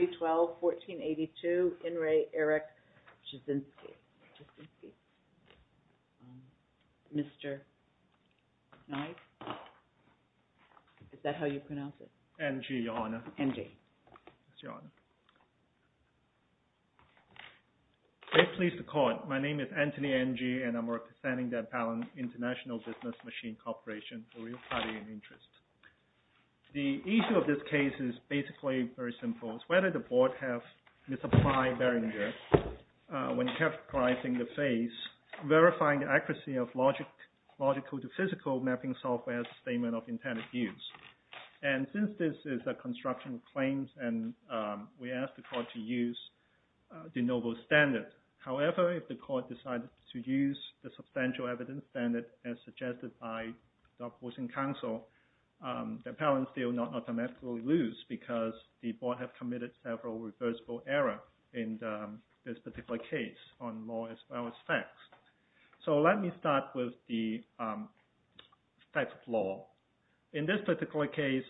3-12-14-82, IN RE ERIC JASINSKI Mr. Nye Is that how you pronounce it? N.G. Your Honor N.G. Yes, Your Honor Very pleased to call it My name is Anthony N.G. and I'm representing Dead Pallant International Business Machine Corporation a real party in interest The issue of this case is basically very simple It's whether the board have misapplied their interest when categorizing the phase verifying the accuracy of logical to physical mapping software statement of intended use And since this is a construction of claims and we asked the court to use de novo standard However, if the court decided to use the substantial evidence standard as suggested by the opposing counsel the pallant will not automatically lose because the board have committed several reversible errors in this particular case on law as well as facts So let me start with the facts of law In this particular case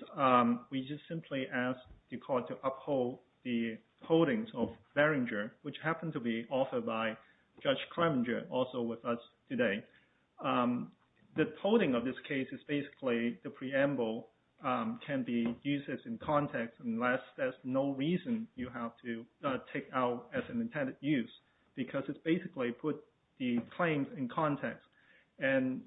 we just simply asked the court to uphold the holdings of Verringer which happened to be offered by Judge Kleminger also with us today The holding of this case is basically the preamble can be used in context unless there's no reason you have to take out as an intended use because it's basically put the claim in context and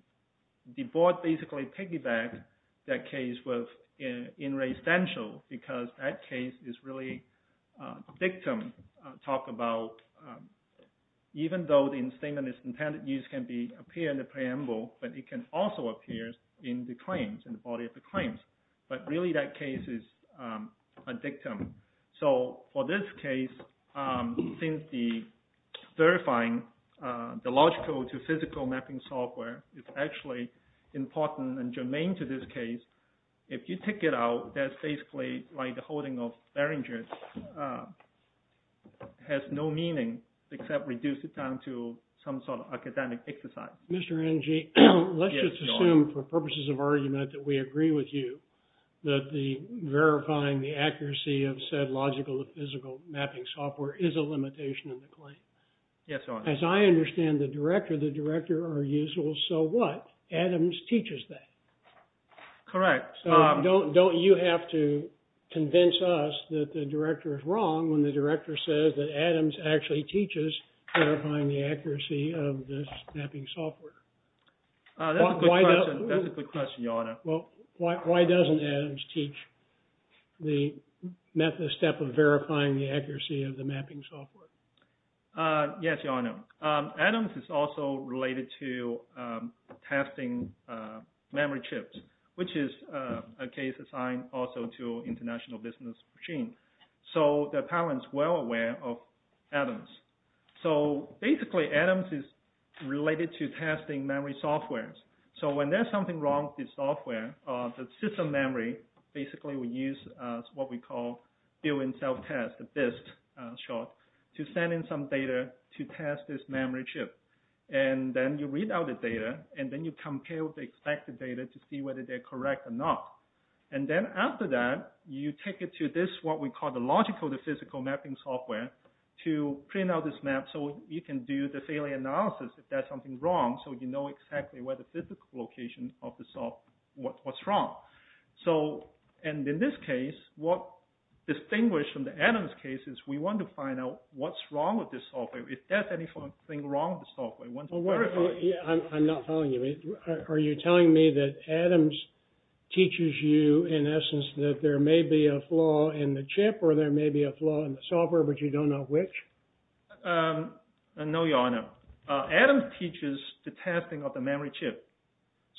the board basically piggybacked that case with in re essential because that case is really victim talk about even though the statement of intended use can appear in the preamble but it can also appear in the body of the claims but really that case is a victim So for this case since the verifying the logical to physical mapping software is actually important and germane to this case if you take it out that's basically like the holding of Verringer which has no meaning except reduce it down to some sort of academic exercise Mr. NG, let's just assume for purposes of argument that we agree with you that the verifying the accuracy of said logical to physical mapping software is a limitation of the claim Yes, Your Honor As I understand the director, the director argues so what, Adams teaches that Correct Don't you have to convince us that the director is wrong when the director says that Adams actually teaches verifying the accuracy of this mapping software That's a good question, Your Honor Why doesn't Adams teach the method step of verifying the accuracy of the mapping software Yes, Your Honor Adams is also related to testing memory chips which is a case assigned also to international business machine so the parents well aware of Adams so basically Adams is related to testing memory software so when there's something wrong with the software the system memory basically we use what we call doing self-test, BIST short to send in some data to test this memory chip and then you read out the data and then you compare the expected data to see whether they're correct or not and then after that you take it to this what we call the logical to physical mapping software to print out this map so you can do the failure analysis if there's something wrong so you know exactly where the physical location of the software what's wrong so and in this case what distinguished from the Adams case is we want to find out what's wrong with this software if there's anything wrong with the software I'm not following you are you telling me that Adams teaches you in essence that there may be a flaw in the chip or there may be a flaw in the software but you don't know which? no your honor Adams teaches the testing of the memory chip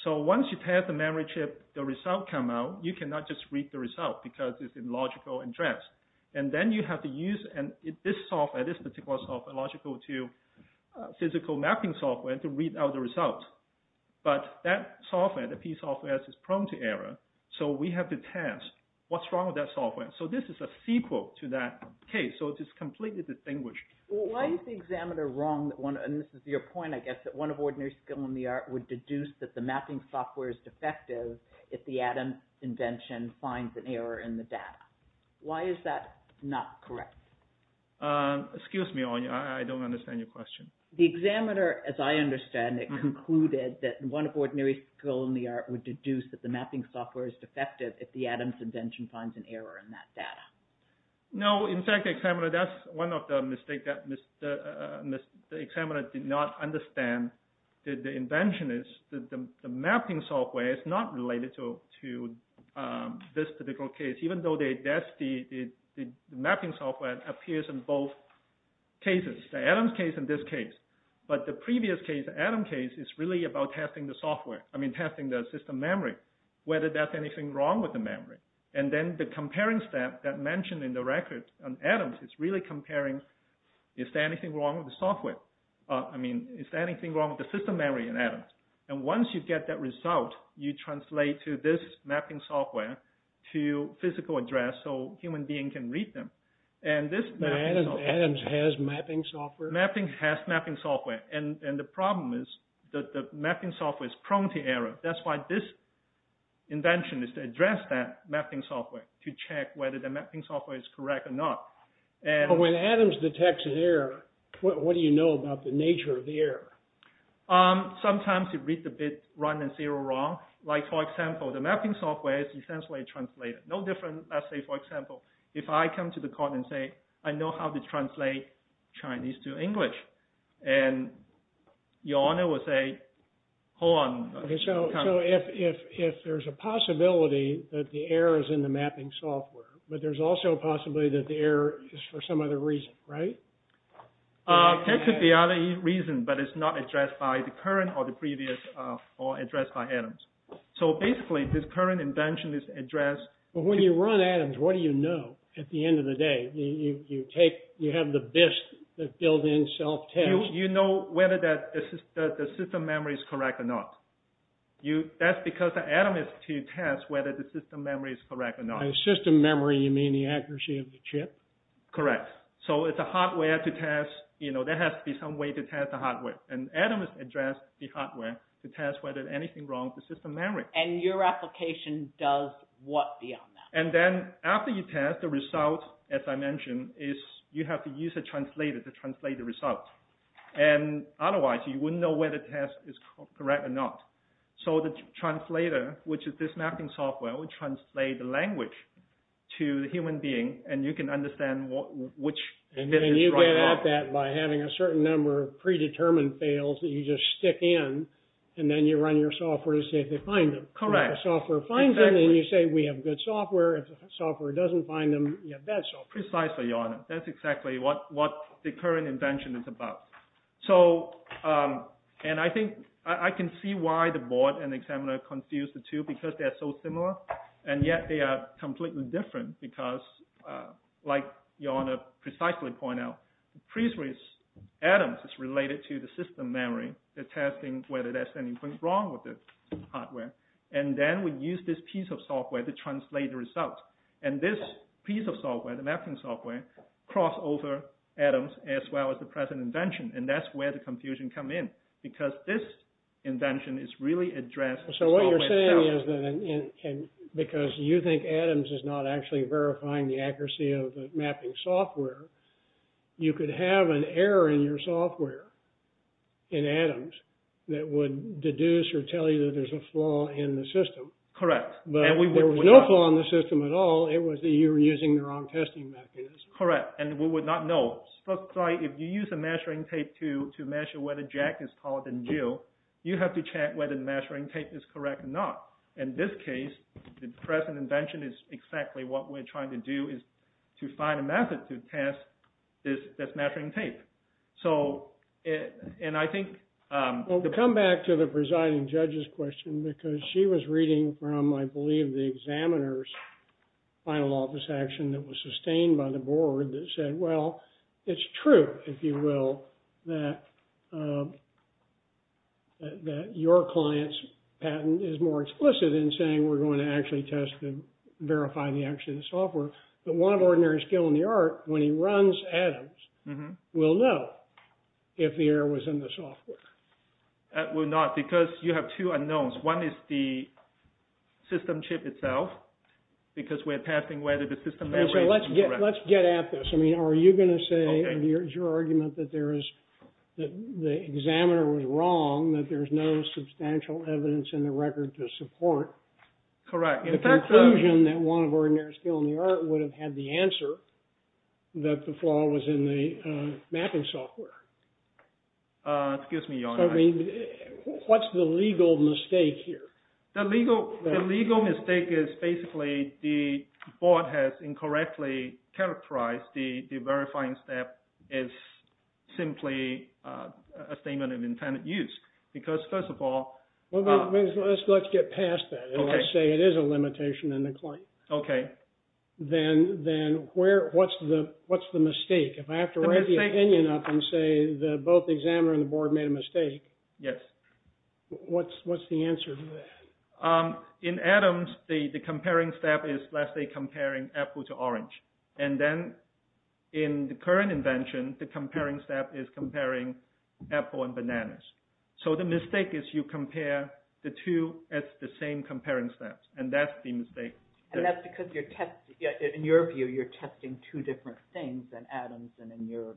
so once you test the memory chip the result come out you cannot just read the result because it's illogical and dressed and then you have to use this software, this particular software logical to physical mapping software to read out the result but that software, the P software is prone to error so we have to test what's wrong with that software so this is a sequel to that case so it is completely distinguished why is the examiner wrong and this is your point I guess that one of ordinary skill in the art would deduce that the mapping software is defective if the Adams invention finds an error in the data why is that not correct? excuse me I don't understand your question the examiner as I understand it concluded that one of ordinary skill in the art would deduce that the mapping software is defective if the Adams invention finds an error in that data no in fact the examiner that's one of the mistake that the examiner did not understand that the invention is that the mapping software is not related to this particular case even though that's the mapping software that appears in both cases the Adams case and this case but the previous case the Adams case is really about testing the software I mean testing the system memory whether that's anything wrong with the memory and then the comparing step that mentioned in the record on Adams is really comparing is there anything wrong with the software I mean is there anything wrong with the system memory in Adams and once you get that result you translate to this mapping software to physical address so human being can read them Adams has mapping software mapping has mapping software and the problem is that the mapping software is prone to error that's why this invention is to address that mapping software to check whether the mapping software is correct or not but when Adams detects an error what do you know about the nature of the error sometimes you read the bit run and zero wrong like for example the mapping software is essentially translated no different let's say for example if I come to the court and say I know how to translate Chinese to English and your honor will say hold on so if there's a possibility that the error is in the mapping software but there's also a possibility that the error is for some other reason right that could be other reason but it's not addressed by the current or the previous or addressed by Adams so basically this current invention is addressed but when you run Adams what do you know at the end of the day you have the bits that build in self-test you know whether the system memory is correct or not that's because Adams is to test whether the system memory is correct or not by system memory you mean the accuracy of the chip correct so it's a hardware to test there has to be some way to test the hardware and Adams addressed the hardware to test whether anything wrong with the system memory and your application does what beyond that and then after you test the result as I mentioned is you have to use a translator to translate the result and otherwise you wouldn't know whether the test is correct or not so the translator which is this mapping software will translate the language to the human being and you can understand which bit is wrong and you get at that by having a certain number of predetermined fails that you just stick in and then you run your software to see if they find them correct if the software finds them then you say we have good software if the software doesn't find them you have bad software precisely your honor that's exactly what the current invention is about so and I think I can see why the board and the examiner confused the two because they are so similar and yet they are completely different because like your honor precisely point out the pre-series Adams is related to the system memory they are testing whether there is anything wrong with the hardware and then we use this piece of software to translate the results and this piece of software the mapping software cross over Adams as well as the present invention and that's where the confusion comes in because this invention is really addressed so what you are saying is that because you think Adams is not actually verifying the accuracy of the mapping software you could have an error in your software in Adams that would deduce or tell you that there is a flaw in the system correct but there was no flaw in the system at all it was that you were using the wrong testing mechanism correct and we would not know so if you use a measuring tape to measure whether Jack is taller than Jill you have to check whether the measuring tape is correct or not in this case the present invention is exactly what we are trying to do is to find a method to test this measuring tape so and I think to come back to the presiding judge's question because she was reading from I believe the examiner's final office action that was sustained by the board that said well it's true if you will that that your client's patent is more explicit in saying we are going to actually test and verify the accuracy of the software but one ordinary skill in the art when he runs Adam's will know if the error was in the software that will not because you have two unknowns one is the system chip itself because we are testing whether the system let's get at this I mean are you going to say your argument that there is the examiner was wrong that there is no substantial evidence in the record to support correct the conclusion that one of ordinary skill in the art would have had the answer that the flaw was in the mapping software excuse me John I mean what's the legal mistake here the legal the legal mistake is basically the board has incorrectly characterized the verifying step is simply a statement of intended use because first of all let's get past that let's say it is a limitation in the claim okay then then where what's the what's the mistake if I have to write the opinion up and say the both examiner and the board made a mistake yes what's what's the answer in Adams the the comparing step is let's say comparing apple to orange and then in the current invention the comparing step is comparing apple and bananas so the mistake is you compare the two as the same comparing steps and that's the mistake and that's because your test in your view you're testing two different things and Adams and in your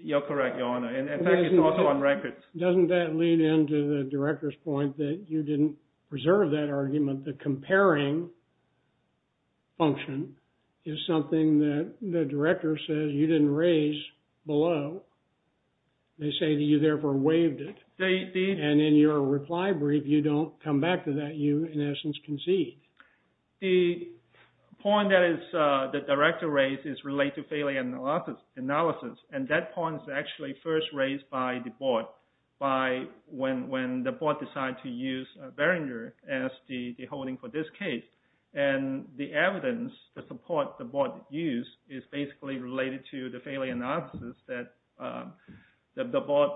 you're correct your honor and in fact it's also on records doesn't that lead into the director's point that you didn't preserve that argument the comparing function is something that the director says you didn't raise below they say that you therefore waived it and in your reply brief you don't come back to that you in essence concede the point that is the director raised is related failure analysis and that point is actually first raised by the board by when when the board decided to use Behringer as the holding for this case and the evidence the support the board used is basically related to the analysis that the board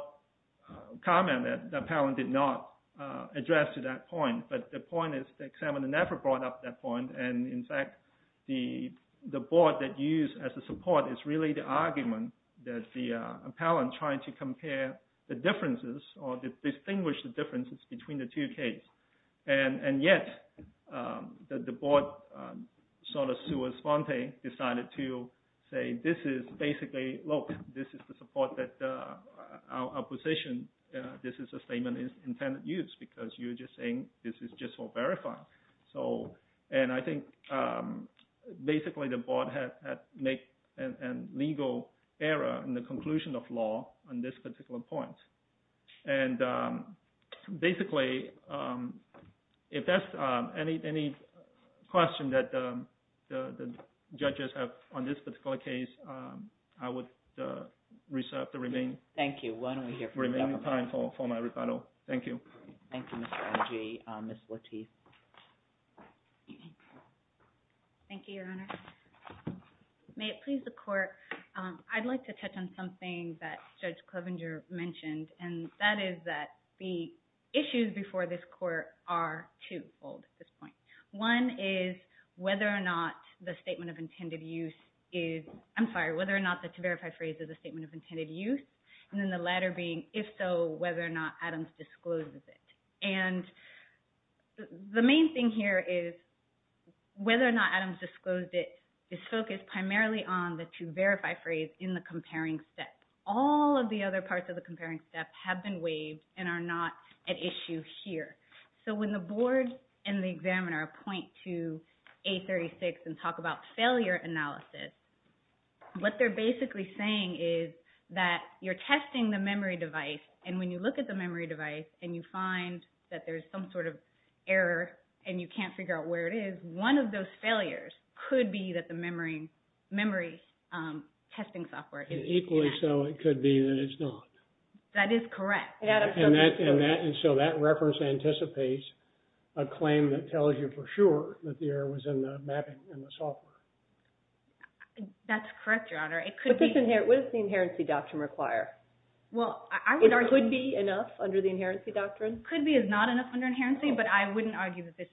comment that the appellant did not address to that point but the point is the examiner never brought up that point and in fact the board that used as a support is really the argument that the appellant used the board to compare the differences or distinguish the differences between the two cases and yet the board decided to say this is basically look this is the support that our position this is the statement intended use because you are saying this is just for verifying and I think basically the board had legal error in the conclusion of law on this particular point and basically if that's any question that the judges have on this particular case I would reserve the remaining time for my rebuttal. Thank you. Thank you Mr. Ogee. Ms. Lateef. Thank you your honor. May it please the court I would like to touch on something that Judge Clovenger mentioned and that is the issues before this court are twofold at this point. One is whether or not the statement of intended use is, I'm sorry, whether or not the to verify phrase is a statement of intended use and the latter being if so whether or not Adams discloses it. And the main thing here is whether or not Adams disclosed it is focused primarily on the to verify phrase in the comparing step. All of the other parts of the comparing step have been waived and are not at issue here. So when the board and the examiner point to A36 and talk about failure analysis what they're basically saying is that you're testing the memory device and when you look at the memory testing software. Equally so it could be that it's not. That is correct. So that reference anticipates a claim that tells you for sure that the error was in the mapping and the software. That's correct, Your Honor. What does the inherency doctrine require? Could be enough under the inherency doctrine? Could be is not enough under inherency but I wouldn't argue that this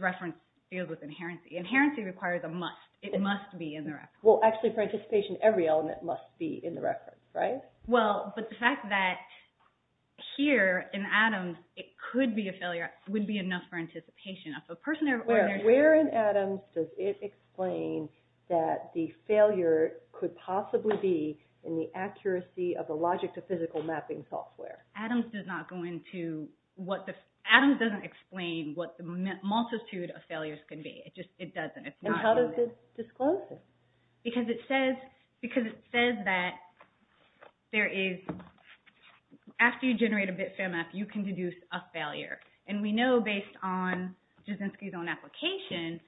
reference deals with inherency. Inherency requires a must. It must be in the reference. Well, actually for anticipation every element must be in the reference, right? Well, but the fact that here in Adams it could be a failure would be enough for anticipation. Where in Adams does it explain that the failure could possibly be in the accuracy of the logic to physical mapping software? Adams doesn't explain what the multitude of failures can be. It doesn't. And how does it disclose it? Because it doesn't the complexity of failure. And we know based on Jasinski's own application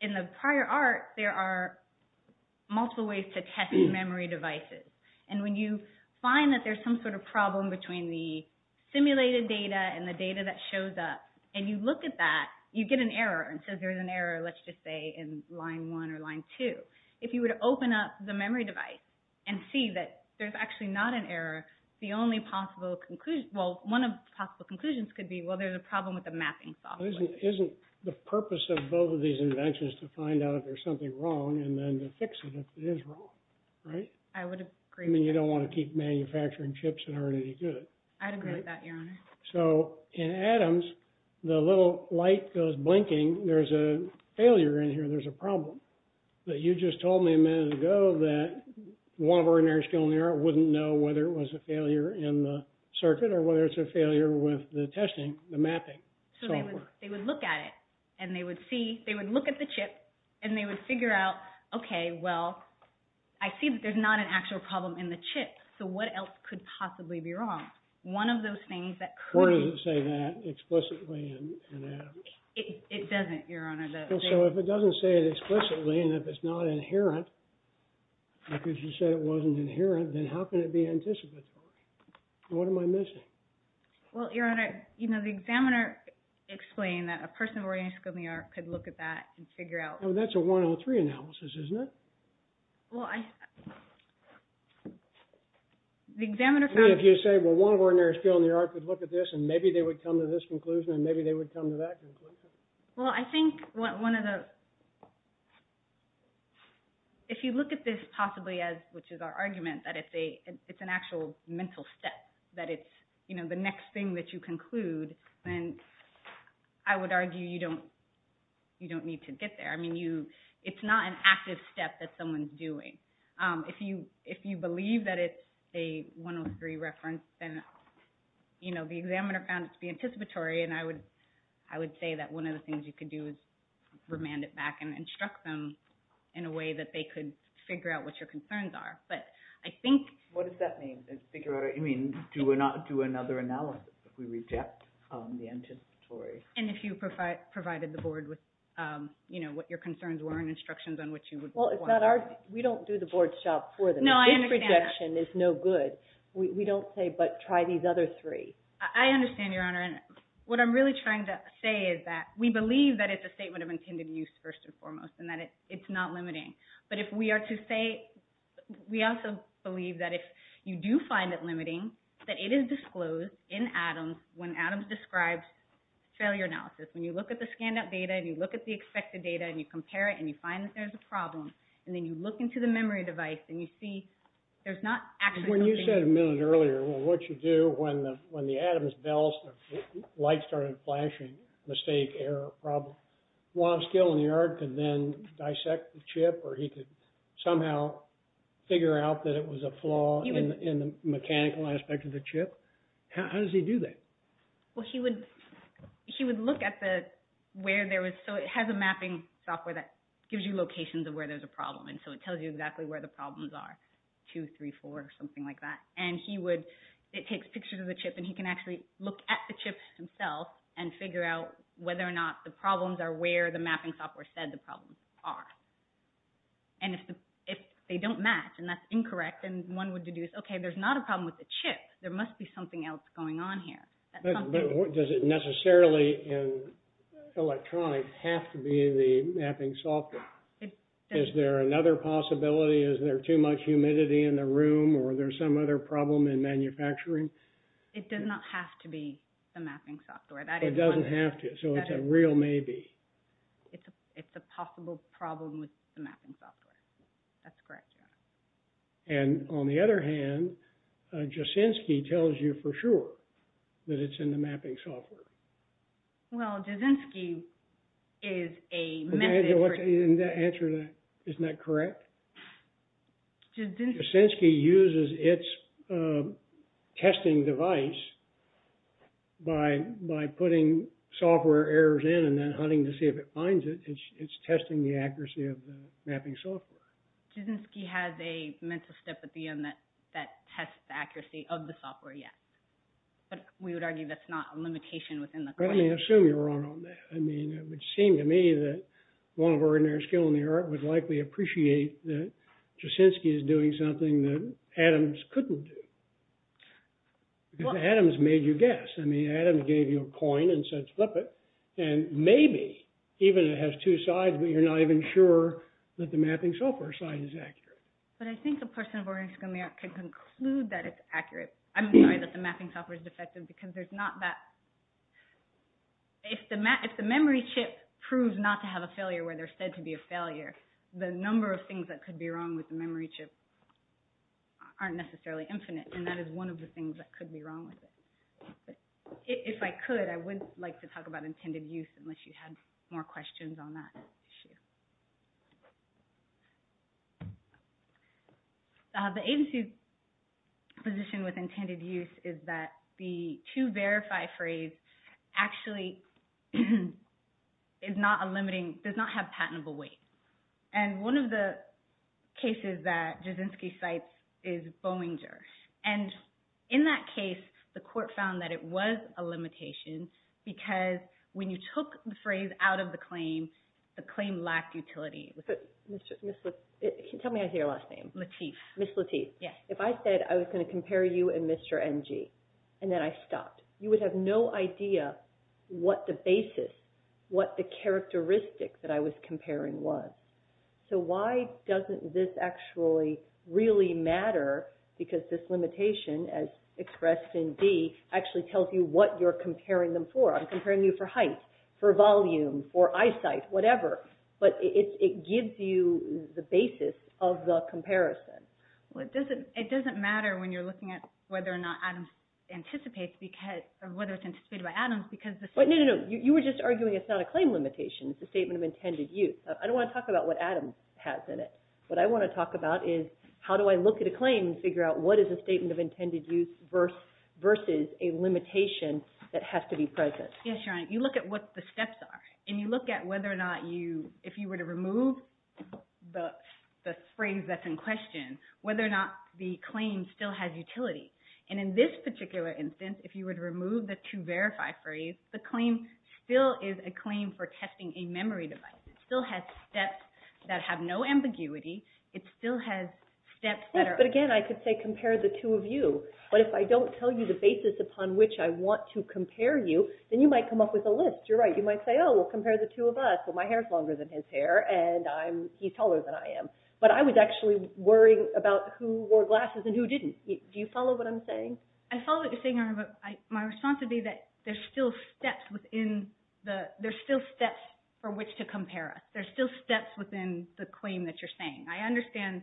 in the prior art there are multiple ways to test memory devices. And when you find that there's some sort of problem between the simulated data and the data that shows up. And you look at that, you get an error. If you would open up the memory device and see that there's actually not an error, one of the possible conclusions could be there's a problem with the mapping software. Isn't the purpose of both of these inventions to find out if there's something wrong and fix it if it is wrong. You don't want to keep manufacturing chips that aren't any good. So in Adams, the little light goes blinking, there's a failure in here, there's a problem. You just told me a minute ago that one of our engineers would look at the chip and they would figure out, okay, well, I see that there's not an actual problem in the chip. So what else could possibly be One of those things that could be wrong. So if it doesn't say it explicitly and if it's not inherent, like you said it wasn't an actual don't think that it is. I think that a mental step. It's the next thing that you conclude. I would argue you don't need to get to the next step. It's not an active step that someone is doing. If you believe that it's a 103 reference, then the examiner found it to be anticipatory. I would say that one of the things you could do is remand it back and instruct them in a way that they could figure out what your concerns are. But I think what does that mean? Do we not do another analysis if we reject the anticipatory? And if you provided the board with what your concerns were. We don't do the board's job for them. We don't say but try these other three. I also believe that if you do find it limiting, that it is disclosed in Adams when Adams describes failure analysis. When you look at the data and compare it and find a problem and look into the memory device and see there's not actually a problem there. But when you said a minute earlier what you do when the Adams light started flashing, mistake, error, problem, he could somehow figure out that it was a flaw in the mechanical aspect of the chip. How does he do that? Well, he would look at the where there was, so it has a mapping software that gives you locations of where there's a problem. And so it tells you exactly where the problems are, two, three, four, something like that. And he would, it takes pictures of the chip and he can actually look at the chip itself and figure out whether or not the problems are where the mapping software said the problems are. And if they don't match and that's incorrect, then one would deduce, okay, there's not a problem with the chip, there must be something else going on here. Does it necessarily in electronic have to be the mapping software? Is there another possibility, is there too much humidity in the room or there's some other problem in manufacturing? It does not have to be the mapping software. It doesn't have to, so it's a real maybe. It's a possible problem with the mapping software. That's correct. And on the other hand, Jasinski tells you for sure that it's in the software. Jasinski uses its testing device by putting software errors in and then hunting to see if it finds it. It's testing the accuracy of the mapping software. Jasinski has a mental step at the end that tests the accuracy of the software, yes. But we would argue that's not a limitation within the question. Let me assume you're wrong on that. It would seem to me that Jasinski is doing something that Adams couldn't do. Adams made you guess. Adams gave you a coin and said flip it and maybe even if it has two sides you're not even sure that the mapping software side is accurate. I'm sorry that the mapping software is defective. If the memory chip proves not to have a failure, the number of things that could be wrong with the memory chip aren't necessarily infinite. If I could, I would like to talk about intended use. The agency's position with intended use is that the to verify phrase actually is not a limiting, does not have patentable weight. One of the cases that Jasinski cites is Bowinger. In that case, the court found that it was a limitation and that when you took the phrase out of the claim, the claim lacked utility. Ms. Lateef, if I said I was going to compare you and Mr. NG and then I stopped, you would have no idea what the basis, what the characteristics I was comparing was. So why doesn't this actually really matter because this limitation as expressed in D actually tells you what you're comparing them for. I'm comparing you for height, for volume, for eyesight, whatever. But it gives you the basis of the comparison. It doesn't matter when you're looking at whether or not Adams anticipates or whether it's anticipated by Adams Ms. Lateef, you were just arguing it's not a claim limitation, it's a statement of intended use. I don't want to talk about what Adams has in it. What I want to talk about is how do I look at a claim versus a limitation that has to be present. You look at what the steps are and you look at whether or not if you were to remove the phrase that's in question, whether or not the claim still has utility. And in this particular instance, if you were to remove the to verify phrase, the claim still is a claim for testing a memory device. It still has steps that have no ambiguity. It still has steps that are... But again, I could say compare the two of you. But if I don't tell you the basis upon which I want to compare you, then you might come up with a list. You're right. You might say, oh, compare the two of us. My hair is longer than his hair, and he's taller than I am. But I was actually worrying about who wore glasses and who didn't. Do you follow what I'm saying? I follow what you're saying, but my response would be that there are still steps for which to compare us. There are still steps within the claim that you're proposing. I understand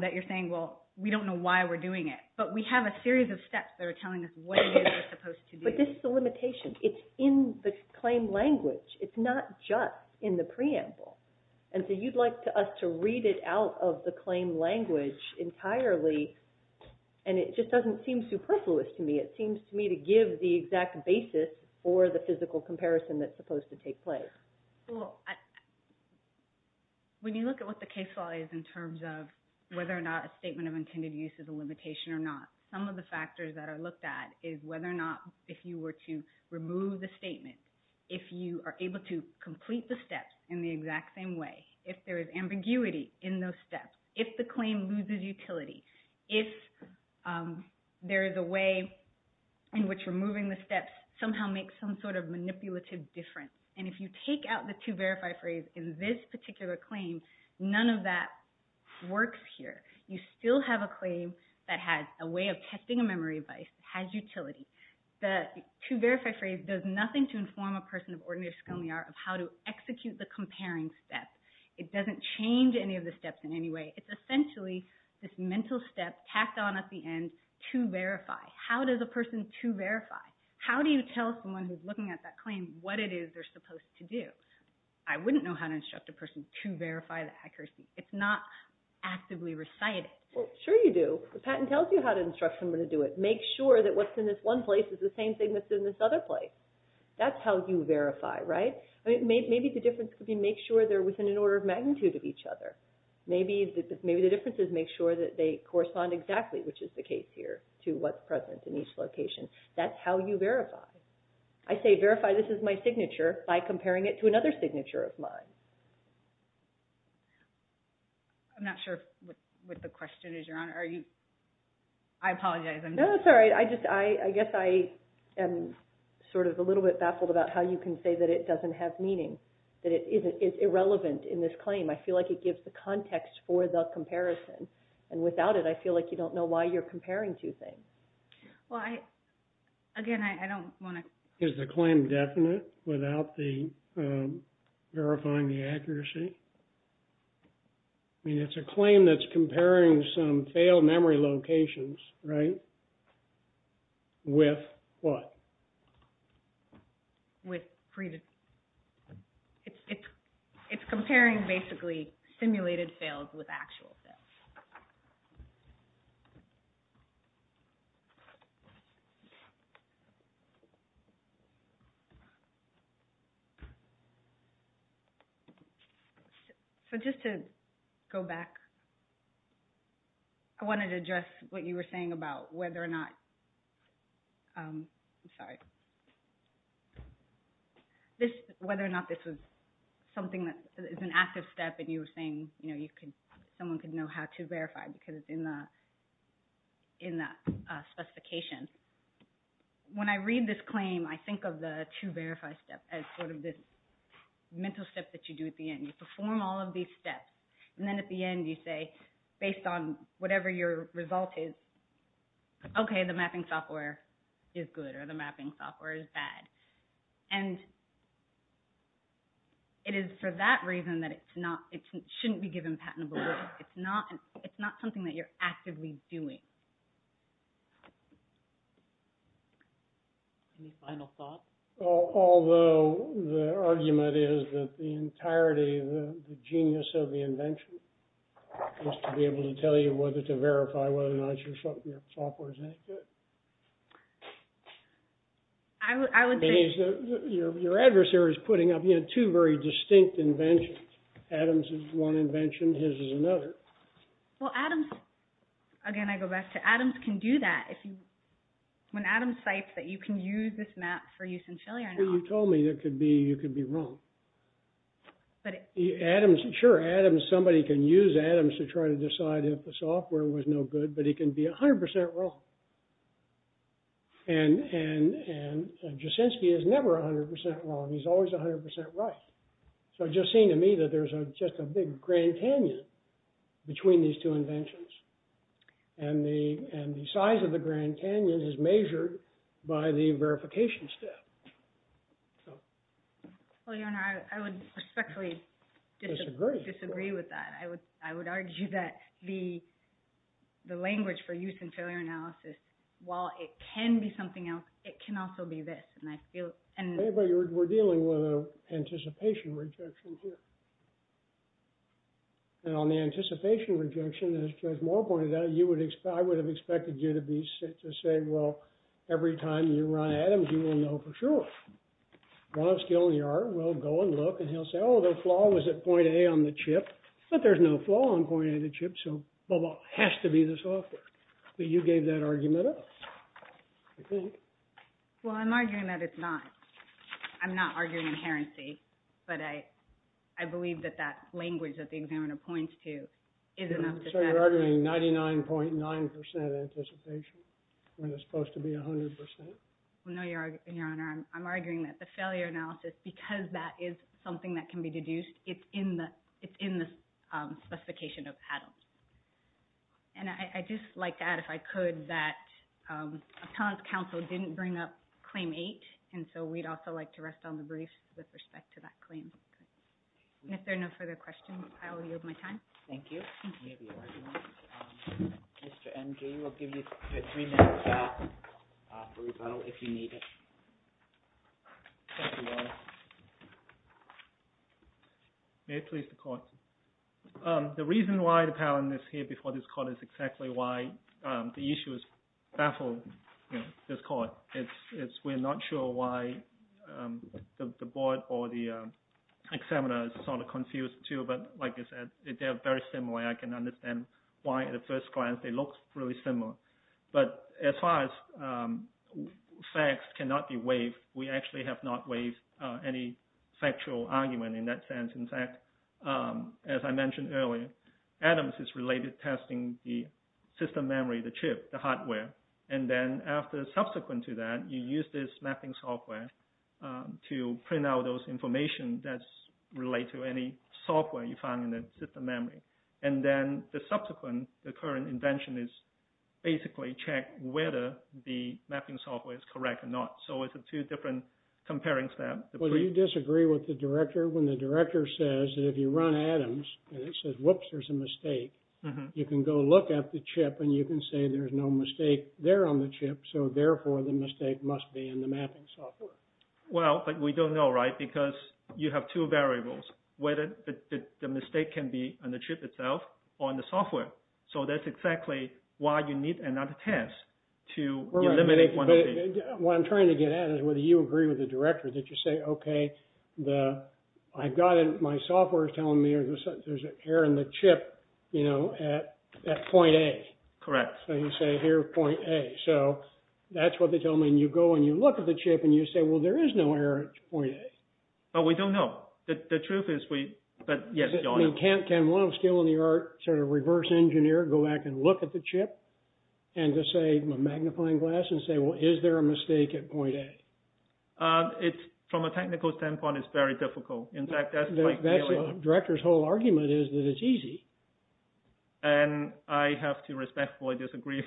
that you're saying, well, we don't know why we're doing it, but we have a series of steps that are telling us what we're supposed to do. But this is a limitation. It's in the claim language. It's not just in the preamble. And so you'd like us to read it out of the claim language entirely, and it just doesn't seem superfluous to me. It seems to me to give the exact basis for the physical comparison that's supposed to take place. Well, when you look at what the case law is in terms of whether or not a statement of intended use is a limitation or not, some of the factors that are looked at is whether or not if you were to remove the statement, if you are able to complete the steps in the exact same way, if there is ambiguity in those steps, if the claim loses utility, if there is a way in which removing the steps somehow makes some sort of difference, is a way in which removing a memory device has utility, the to verify phrase does nothing to inform a person of how to execute the comparing steps. It doesn't change any of the steps in any way. It's essentially this mental step tacked on at the end to verify. How does an instructor verify the accuracy? It's not actively recited. Sure you do. Make sure what's in this one place is the same thing in this other place. That's how you verify. Maybe the difference is make sure they correspond exactly to what's present in each location. That's how you verify. I say verify this is my signature by comparing it to another signature of mine. I'm not sure what the question is, Your Honor. I apologize. No, that's all right. I guess I am sort of a little bit baffled about how you can say it doesn't have meaning. It's irrelevant in this claim. I feel like it gives the context for the comparison. Without it, I feel like you don't know why you're comparing two things. Again, I don't want to Is the claim definite without verifying the accuracy? It's a comparison with previous It's comparing basically simulated fails with actual fails. I wanted to address what you were saying about whether or not I'm sorry, the question was whether or not there was an active step and you were saying someone could know how to verify because it's in the specification. When I read this claim, I think of the to verify step as the mental step you do at the end. You perform all of these steps and then at the end you say based on whatever your result is, okay, the mapping software is good or the mapping software is bad. And it is for that reason that it shouldn't be given patentable rights. It's not something you're actively doing. Any final thoughts? Although the argument is that the entirety of the genius of the invention is to be able to tell you whether to verify whether or not your software is any good. Your adversary is putting up two very distinct inventions. Adam's is one invention, his is another. Well, Adam's, again, I go back to Adam's can do that. When Adam cites that you can use this map for use in Chile. You told me you could be wrong. Sure, somebody can use Adams to try to decide if the software was no good. not simple. The idea is that the size of the Grand Canyon is measured by the verification step. I would respectfully disagree with that. I would argue that the language for use in failure analysis while it can be something else, it can also be this. We're dealing with an anticipation rejection here. On the anticipation rejection, I would have expected you to say every time you run Adam's, you will know for sure. He'll say the flaw was at point A on the chip. There's no flaw on point A on the chip. It has to be the software. You gave that argument up. I'm arguing that it's not. I'm not arguing inherency. I believe that language that the examiner points to is enough to set it up. I'm arguing that Adam's is something that can be deduced, it's in the specification of Adam's. I'd like to add if I could, that the council didn't bring up claim eight. We'd like to rest on the brief. If there are no further questions, I'll yield my time. Thank you. Mr. M. G. We'll give you three minutes for rebuttal if you need it. May it please the court. The reason why the panel is here before this